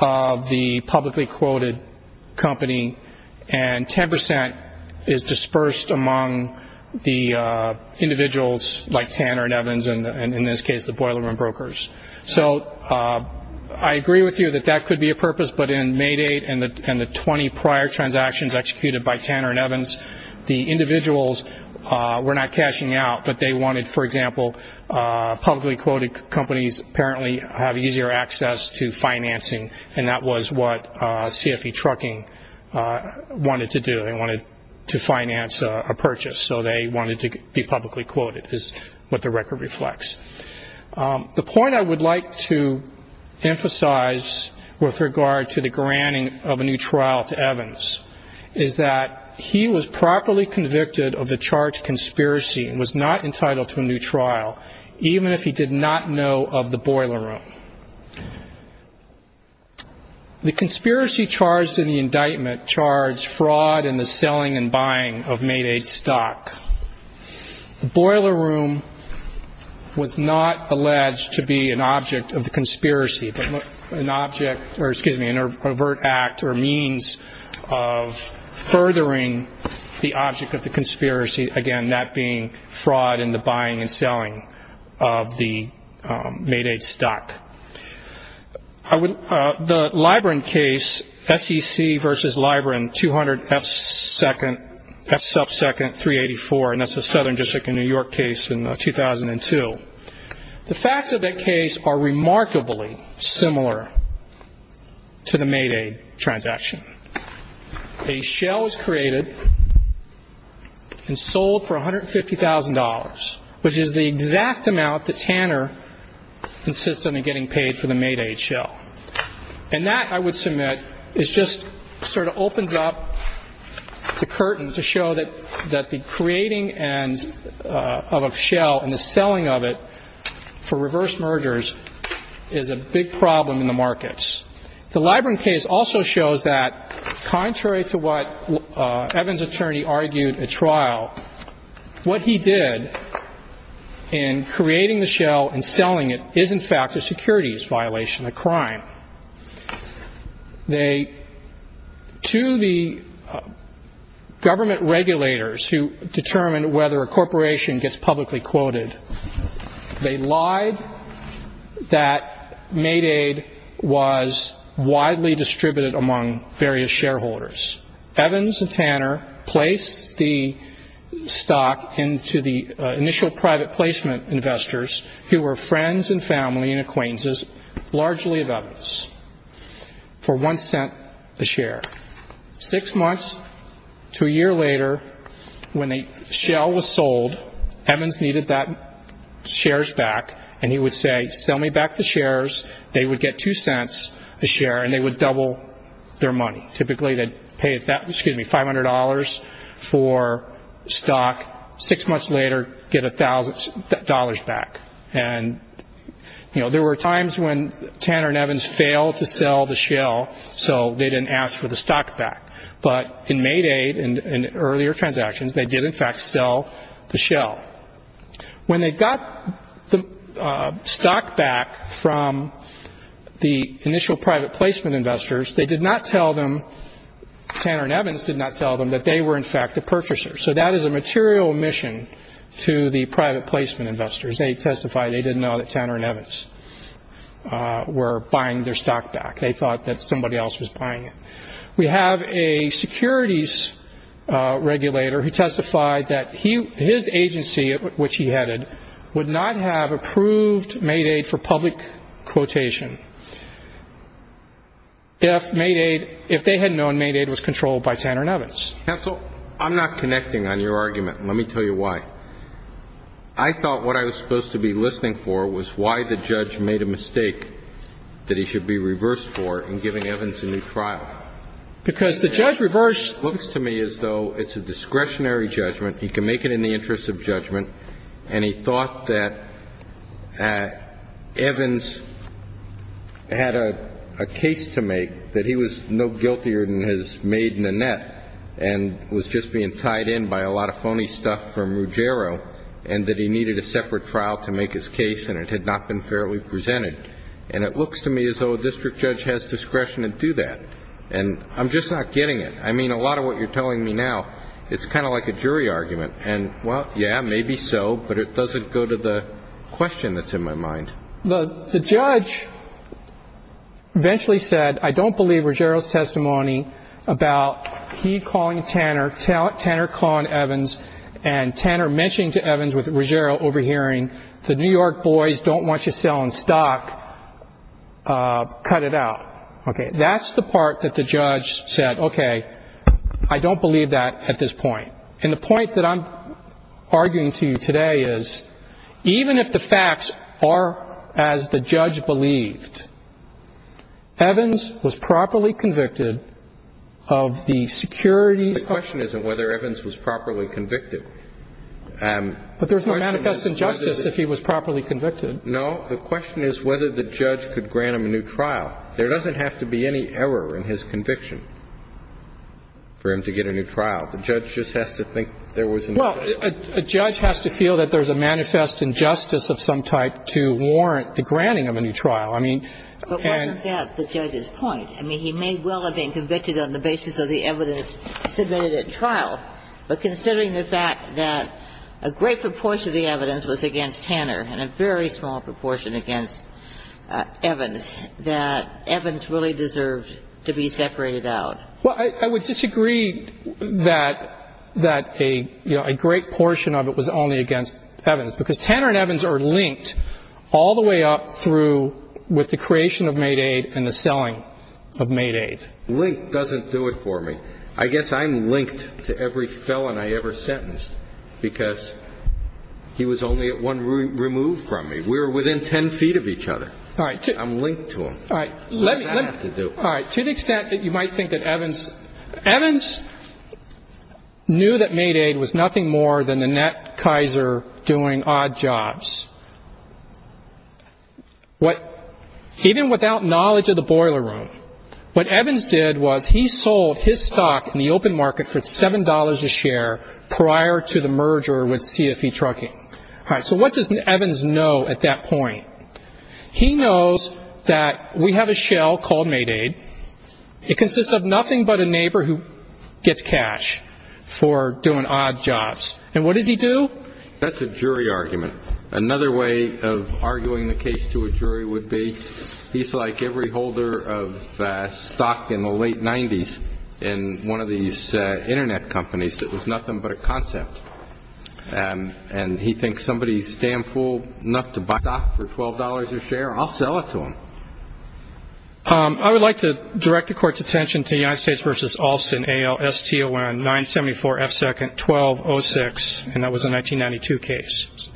of the publicly quoted company, and 10% is dispersed among the individuals like Tanner and Evans, and in this case the boiler room brokers. So I agree with you that that could be a purpose, but in May 8 and the 20 prior transactions executed by Tanner and Evans, the individuals were not cashing out, but they wanted, for example, publicly quoted companies apparently have easier access to financing, and that was what CFE Trucking wanted to do. They wanted to finance a purchase, so they wanted to be publicly quoted is what the record reflects. The point I would like to emphasize with regard to the granting of a new trial to Evans is that he was properly convicted of the charged conspiracy and was not entitled to a new trial, even if he did not know of the boiler room. The conspiracy charged in the indictment charged fraud in the selling and buying of May 8 stock. The boiler room was not alleged to be an object of the conspiracy, but an object, or excuse me, an overt act or means of furthering the object of the conspiracy, again, that being fraud in the buying and selling of the May 8 stock. The Libren case, SEC versus Libren, 200F2nd 384, and that's a southern district in New York case in 2002. The facts of that case are remarkably similar to the May 8 transaction. A shell is created and sold for $150,000, which is the exact amount that Tanner insists on getting paid for the May 8 shell. And that, I would submit, is just sort of opens up the curtain to show that the creating of a shell and the selling of it for reverse mergers is a big problem in the markets. The Libren case also shows that, contrary to what Evans' attorney argued at trial, what he did in creating the shell and selling it is, in fact, a securities violation, a crime. To the government regulators who determined whether a corporation gets publicly quoted, they lied that May 8 was widely distributed among various shareholders. Evans and Tanner placed the stock into the initial private placement investors who were friends and family and acquaintances largely of Evans for one cent a share. Six months to a year later, when a shell was sold, Evans needed that shares back, and he would say, sell me back the shares. Pay $500 for stock. Six months later, get $1,000 back. There were times when Tanner and Evans failed to sell the shell, so they didn't ask for the stock back. But in May 8 and earlier transactions, they did, in fact, sell the shell. When they got the stock back from the initial private placement investors, they did not tell them, Tanner and Evans did not tell them that they were, in fact, the purchasers. So that is a material omission to the private placement investors. They testified they didn't know that Tanner and Evans were buying their stock back. They thought that somebody else was buying it. We have a securities regulator who testified that his agency, which he headed, would not have approved May 8 for public quotation if May 8, if they had known May 8 was controlled by Tanner and Evans. Counsel, I'm not connecting on your argument. Let me tell you why. I thought what I was supposed to be listening for was why the judge made a mistake that he should be reversed for in giving Evans a new trial. Because the judge reversed. It looks to me as though it's a discretionary judgment. He can make it in the interest of judgment. And he thought that Evans had a case to make that he was no guiltier than his maiden Annette and was just being tied in by a lot of phony stuff from Ruggiero and that he needed a separate trial to make his case and it had not been fairly presented. And it looks to me as though a district judge has discretion to do that. And I'm just not getting it. I mean, a lot of what you're telling me now, it's kind of like a jury argument. And, well, yeah, maybe so. But it doesn't go to the question that's in my mind. The judge eventually said, I don't believe Ruggiero's testimony about he calling Tanner, Tanner calling Evans, and Tanner mentioning to Evans with Ruggiero overhearing the New York boys don't want you selling stock. Cut it out. Okay. That's the part that the judge said, okay, I don't believe that at this point. And the point that I'm arguing to you today is even if the facts are as the judge believed, Evans was properly convicted of the securities. The question isn't whether Evans was properly convicted. But there's no manifest injustice if he was properly convicted. No. The question is whether the judge could grant him a new trial. There doesn't have to be any error in his conviction for him to get a new trial. The judge just has to think there was an injustice. Well, a judge has to feel that there's a manifest injustice of some type to warrant the granting of a new trial. I mean, and the judge's point, I mean, he may well have been convicted on the basis of the evidence submitted at trial. But considering the fact that a great proportion of the evidence was against Tanner and a very small proportion against Evans, that Evans really deserved to be separated out. Well, I would disagree that a great portion of it was only against Evans, because Tanner and Evans are linked all the way up through with the creation of Maidaid and the selling of Maidaid. Linked doesn't do it for me. I guess I'm linked to every felon I ever sentenced because he was only one removed from me. We were within ten feet of each other. I'm linked to him. What does that have to do? All right. To the extent that you might think that Evans, Evans knew that Maidaid was nothing more than the Nat Kaiser doing odd jobs. What, even without knowledge of the boiler room, what Evans did was he sold his stock in the open market for $7 a share prior to the merger with CFE Trucking. All right. So what does Evans know at that point? He knows that we have a shell called Maidaid. It consists of nothing but a neighbor who gets cash for doing odd jobs. And what does he do? That's a jury argument. Another way of arguing the case to a jury would be he's like every holder of stock in the late 90s in one of these Internet companies. It was nothing but a concept. And he thinks somebody is damn fool enough to buy stock for $12 a share. I'll sell it to him. I would like to direct the court's attention to United States v. Alston, A-L-S-T-O-N, 974 F. Second, 1206, and that was a 1992 case.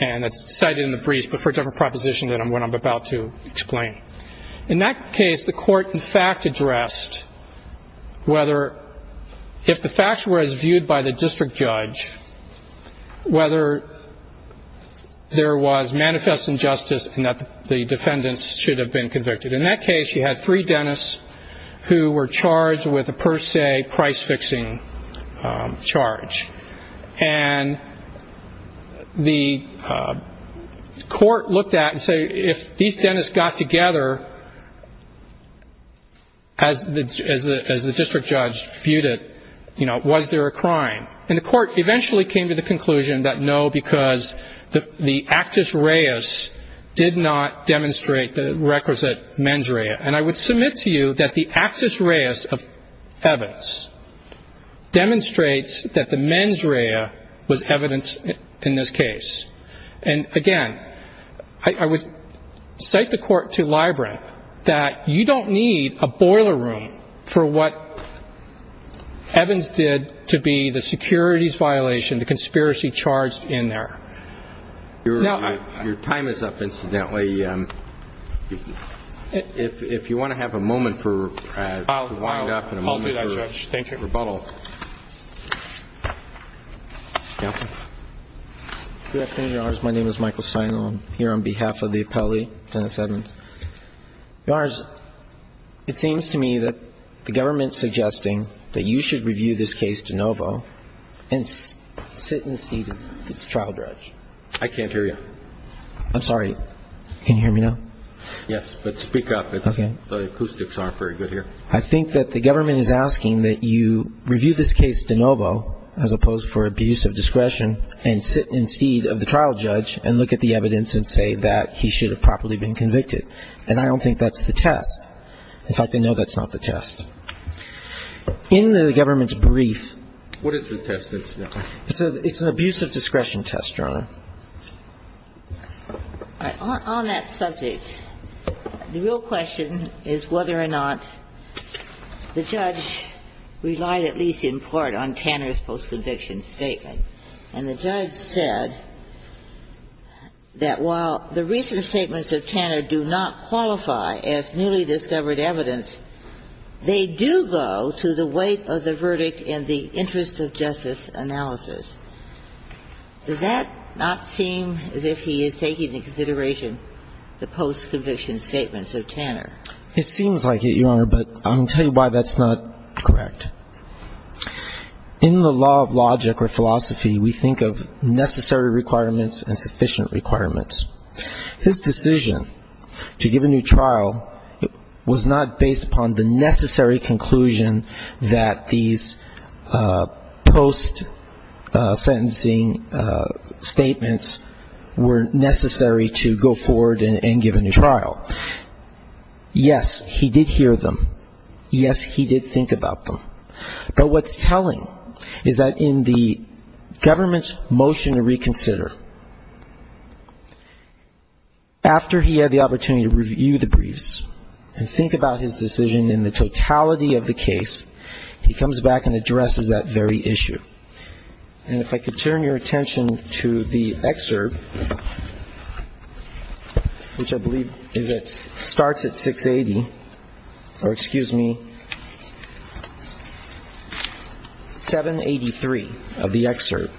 And that's cited in the brief, but for a different proposition than what I'm about to explain. In that case, the court in fact addressed whether if the facts were as viewed by the district judge, whether there was manifest injustice and that the defendants should have been convicted. In that case, you had three dentists who were charged with a per se price-fixing charge. And the court looked at and said if these dentists got together, as the district judge viewed it, was there a crime? And the court eventually came to the conclusion that no, because the actus reus did not demonstrate the requisite mens rea. And I would submit to you that the actus reus of Evans demonstrates that the mens rea was evident in this case. And, again, I would cite the court to Libren that you don't need a boiler room for what Evans did to be the securities violation, the conspiracy charged in there. Your time is up, incidentally. If you want to have a moment to wind up and a moment for rebuttal. I'll do that, Judge. Thank you. Counsel? Your Honor, my name is Michael Seinel. I'm here on behalf of the appellee, Dennis Evans. Your Honor, it seems to me that the government is suggesting that you should review this case de novo and sit in the seat of the trial judge. I can't hear you. I'm sorry. Can you hear me now? Yes, but speak up. Okay. The acoustics aren't very good here. I think that the government is asking that you review this case de novo, as opposed for abuse of discretion, and sit in the seat of the trial judge and look at the evidence and say that he should have properly been convicted. And I don't think that's the test. In fact, I know that's not the test. In the government's brief. What is the test? It's an abuse of discretion test, Your Honor. All right. On that subject, the real question is whether or not the judge relied at least in part on Tanner's post-conviction statement. And the judge said that while the recent statements of Tanner do not qualify as newly discovered evidence, they do go to the weight of the verdict in the interest of justice analysis. Does that not seem as if he is taking into consideration the post-conviction statements of Tanner? It seems like it, Your Honor, but I'm going to tell you why that's not correct. In the law of logic or philosophy, we think of necessary requirements and sufficient requirements. His decision to give a new trial was not based upon the necessary conclusion that these post-sentencing statements were necessary to go forward and give a new trial. Yes, he did hear them. Yes, he did think about them. But what's telling is that in the government's motion to reconsider, after he had the opportunity to review the briefs and think about his decision in the totality of the case, he comes back and addresses that very issue. And if I could turn your attention to the excerpt, which I believe starts at 680, or excuse me, 783 of the excerpt.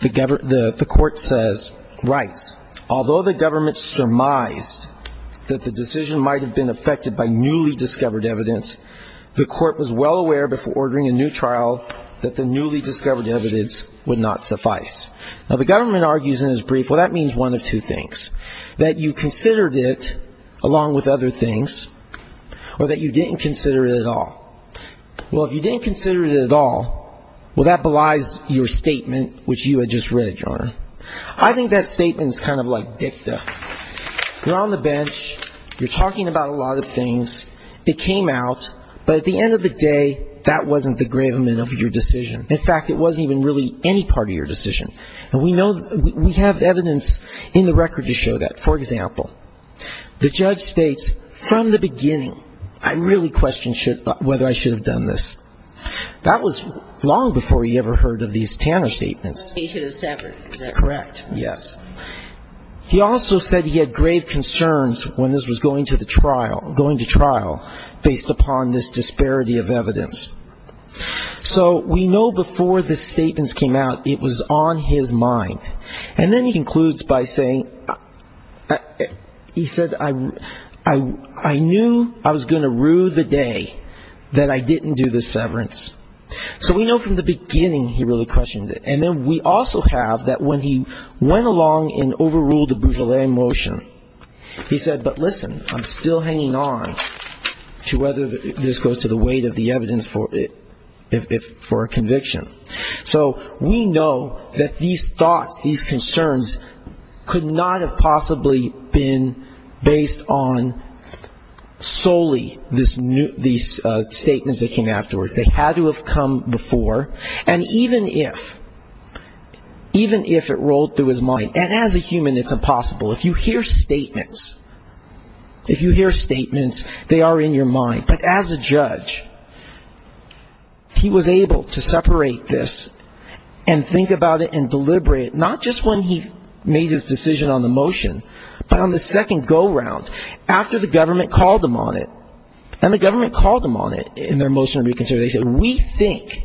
The court says, writes, although the government surmised that the decision might have been affected by newly discovered evidence, the court was well aware before ordering a new trial that the newly discovered evidence would not suffice. Now, the government argues in his brief, well, that means one of two things, that you considered it along with other things or that you didn't consider it at all. Well, if you didn't consider it at all, well, that belies your statement, which you had just read, Your Honor. I think that statement is kind of like dicta. You're on the bench. You're talking about a lot of things. It came out. But at the end of the day, that wasn't the gravement of your decision. In fact, it wasn't even really any part of your decision. And we know, we have evidence in the record to show that. For example, the judge states, from the beginning, I really question whether I should have done this. That was long before he ever heard of these Tanner statements. He should have severed. Correct, yes. He also said he had grave concerns when this was going to trial based upon this disparity of evidence. So we know before the statements came out, it was on his mind. And then he concludes by saying, he said, I knew I was going to rue the day that I didn't do the severance. So we know from the beginning he really questioned it. And then we also have that when he went along and overruled the Boutelet motion, he said, but listen, I'm still hanging on to whether this goes to the weight of the evidence for a conviction. So we know that these thoughts, these concerns could not have possibly been based on solely these statements that came afterwards. They had to have come before. And even if, even if it rolled through his mind, and as a human it's impossible. If you hear statements, if you hear statements, they are in your mind. But as a judge, he was able to separate this and think about it and deliberate, not just when he made his decision on the motion, but on the second go round after the government called him on it. And the government called him on it in their motion to reconsider. They said, we think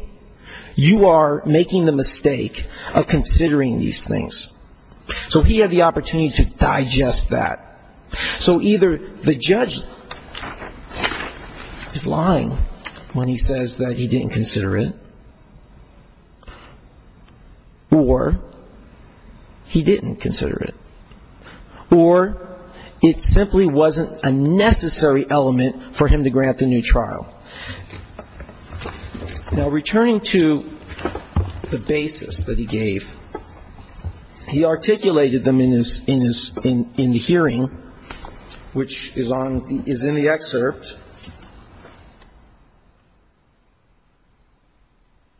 you are making the mistake of considering these things. So he had the opportunity to digest that. So either the judge is lying when he says that he didn't consider it, or he didn't consider it, or it simply wasn't a necessary element for him to grant the new trial. Now, returning to the basis that he gave, he articulated them in his, in the hearing, which is on, is in the excerpt.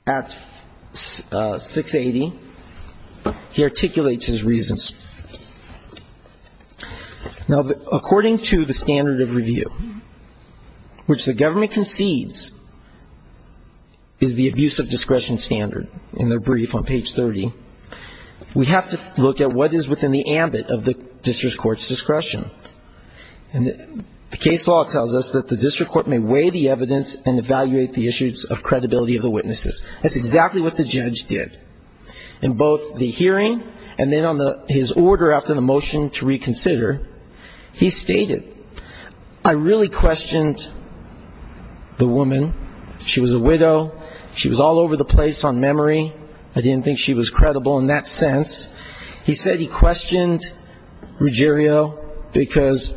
At 680, he articulates his reasons. Now, according to the standard of review, which the government concedes is the abuse of discretion standard, in their brief on page 30, we have to look at what is within the ambit of the district court's discretion. And the case law tells us that the district court may weigh the evidence and evaluate the issues of credibility of the witnesses. That's exactly what the judge did. In both the hearing and then on his order after the motion to reconsider, he stated, I really questioned the woman. She was a widow. She was all over the place on memory. I didn't think she was credible in that sense. He said he questioned Ruggiero because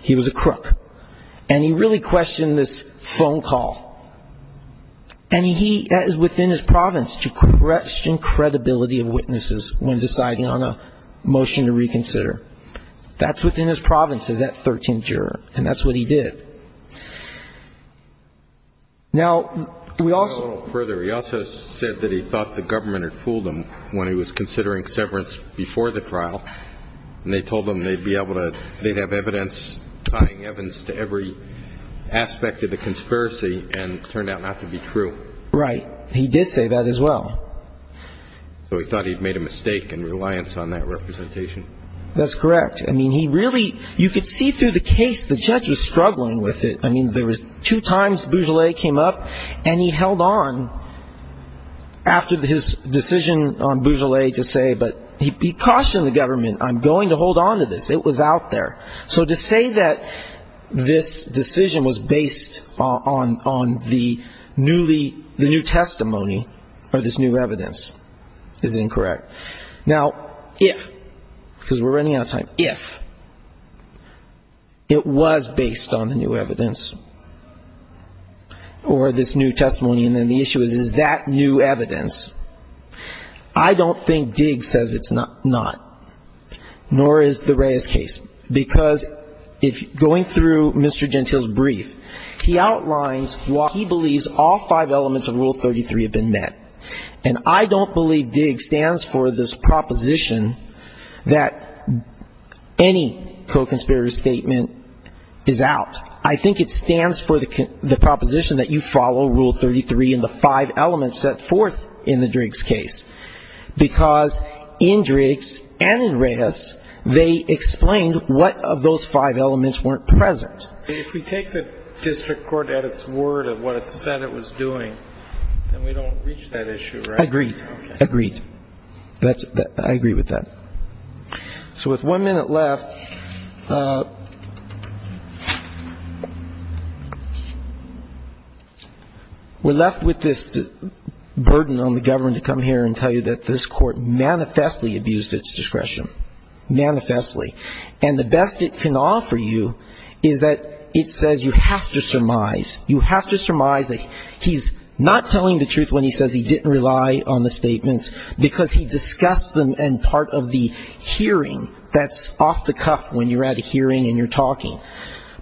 he was a crook. And he really questioned this phone call. And he, that is within his province to question credibility of witnesses when deciding on a motion to reconsider. That's within his province, is that 13th juror. And that's what he did. Now, we also. Go a little further. He also said that he thought the government had fooled him when he was considering severance before the trial. And they told him they'd be able to, they'd have evidence tying Evans to every aspect of the conspiracy and turned out not to be true. Right. He did say that as well. So he thought he'd made a mistake in reliance on that representation. That's correct. I mean, he really, you could see through the case, the judge was struggling with it. I mean, there was two times Bugele came up and he held on after his decision on Bugele to say, but he cautioned the government, I'm going to hold on to this. It was out there. So to say that this decision was based on the newly, the new testimony or this new evidence is incorrect. Now, if, because we're running out of time, if it was based on the new evidence or this new testimony and then the issue is, is that new evidence, I don't think Diggs says it's not, nor is the Reyes case. Because going through Mr. Gentile's brief, he outlines why he believes all five elements of Rule 33 have been met. And I don't believe Diggs stands for this proposition that any co-conspirator's statement is out. I think it stands for the proposition that you follow Rule 33 and the five elements set forth in the Diggs case. Because in Diggs and in Reyes, they explained what of those five elements weren't present. If we take the district court at its word of what it said it was doing, then we don't reach that issue, right? Agreed. Agreed. I agree with that. So with one minute left, we're left with this burden on the government to come here and tell you that this Court manifestly abused its discretion, manifestly. And the best it can offer you is that it says you have to surmise. You have to surmise that he's not telling the truth when he says he didn't rely on the statements because he discussed them and part of the hearing that's off the cuff when you're at a hearing and you're talking.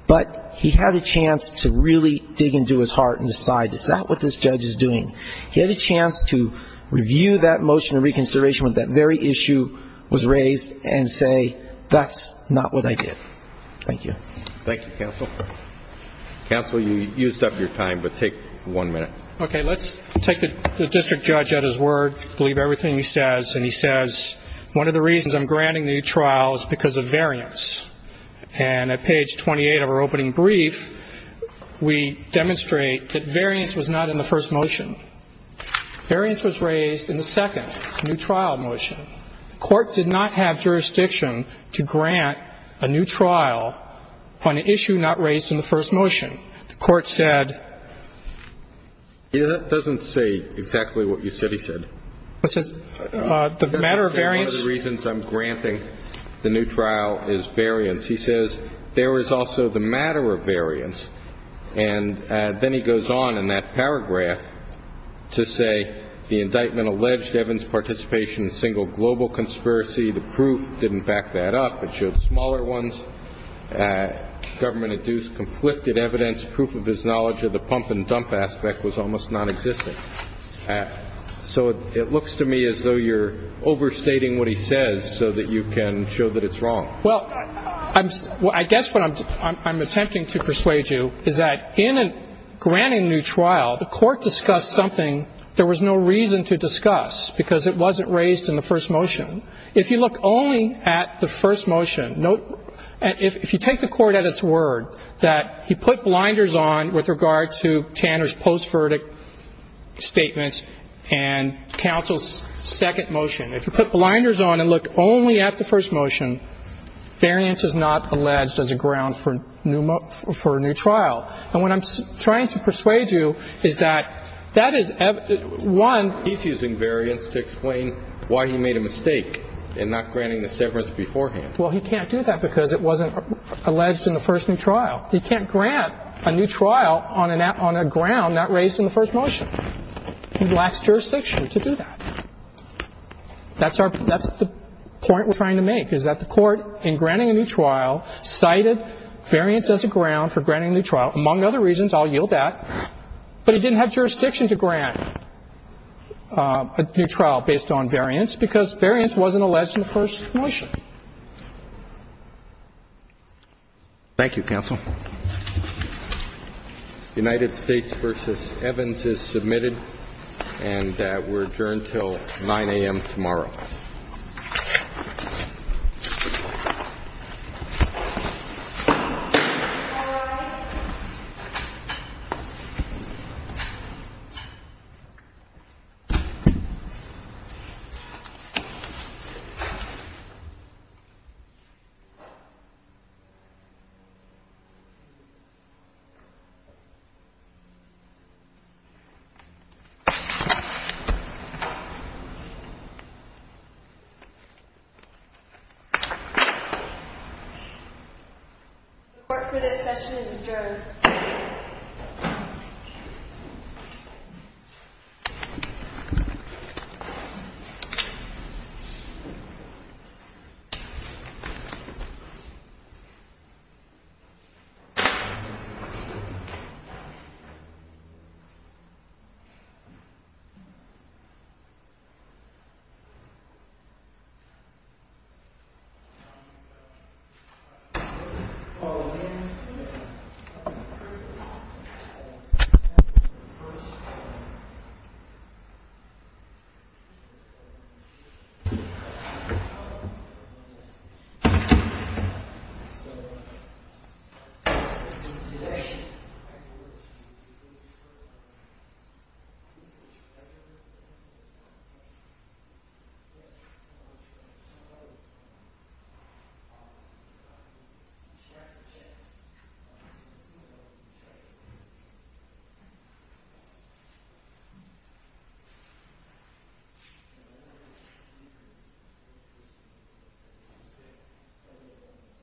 But he had a chance to really dig into his heart and decide, is that what this judge is doing? He had a chance to review that motion of reconsideration when that very issue was raised and say, that's not what I did. Thank you. Thank you, counsel. Counsel, you used up your time, but take one minute. Okay. Let's take the district judge at his word, believe everything he says, and he says, one of the reasons I'm granting the new trial is because of variance. And at page 28 of our opening brief, we demonstrate that variance was not in the first motion. Variance was raised in the second, the new trial motion. The Court did not have jurisdiction to grant a new trial on an issue not raised in the first motion. The Court said. It doesn't say exactly what you said he said. It says the matter of variance. One of the reasons I'm granting the new trial is variance. He says there is also the matter of variance. And then he goes on in that paragraph to say the indictment alleged Evans' participation in a single global conspiracy. The proof didn't back that up. It showed smaller ones, government-induced conflicted evidence, proof of his knowledge of the pump and dump aspect was almost nonexistent. So it looks to me as though you're overstating what he says so that you can show that it's wrong. Well, I guess what I'm attempting to persuade you is that in granting the new trial, the Court discussed something there was no reason to discuss because it wasn't raised in the first motion. If you look only at the first motion, if you take the Court at its word that he put blinders on with regard to Tanner's post-verdict statements and counsel's second motion, if you put blinders on and look only at the first motion, variance is not alleged as a ground for a new trial. And what I'm trying to persuade you is that that is one. He's using variance to explain why he made a mistake in not granting the severance beforehand. Well, he can't do that because it wasn't alleged in the first new trial. He can't grant a new trial on a ground not raised in the first motion. He lacks jurisdiction to do that. That's the point we're trying to make is that the Court, in granting a new trial, cited variance as a ground for granting a new trial, among other reasons, I'll yield that, but he didn't have jurisdiction to grant a new trial based on variance because variance wasn't alleged in the first motion. Thank you, counsel. United States v. Evans is submitted and we're adjourned until 9 a.m. tomorrow. Thank you. The Court for this session is adjourned. Thank you. The Court is adjourned.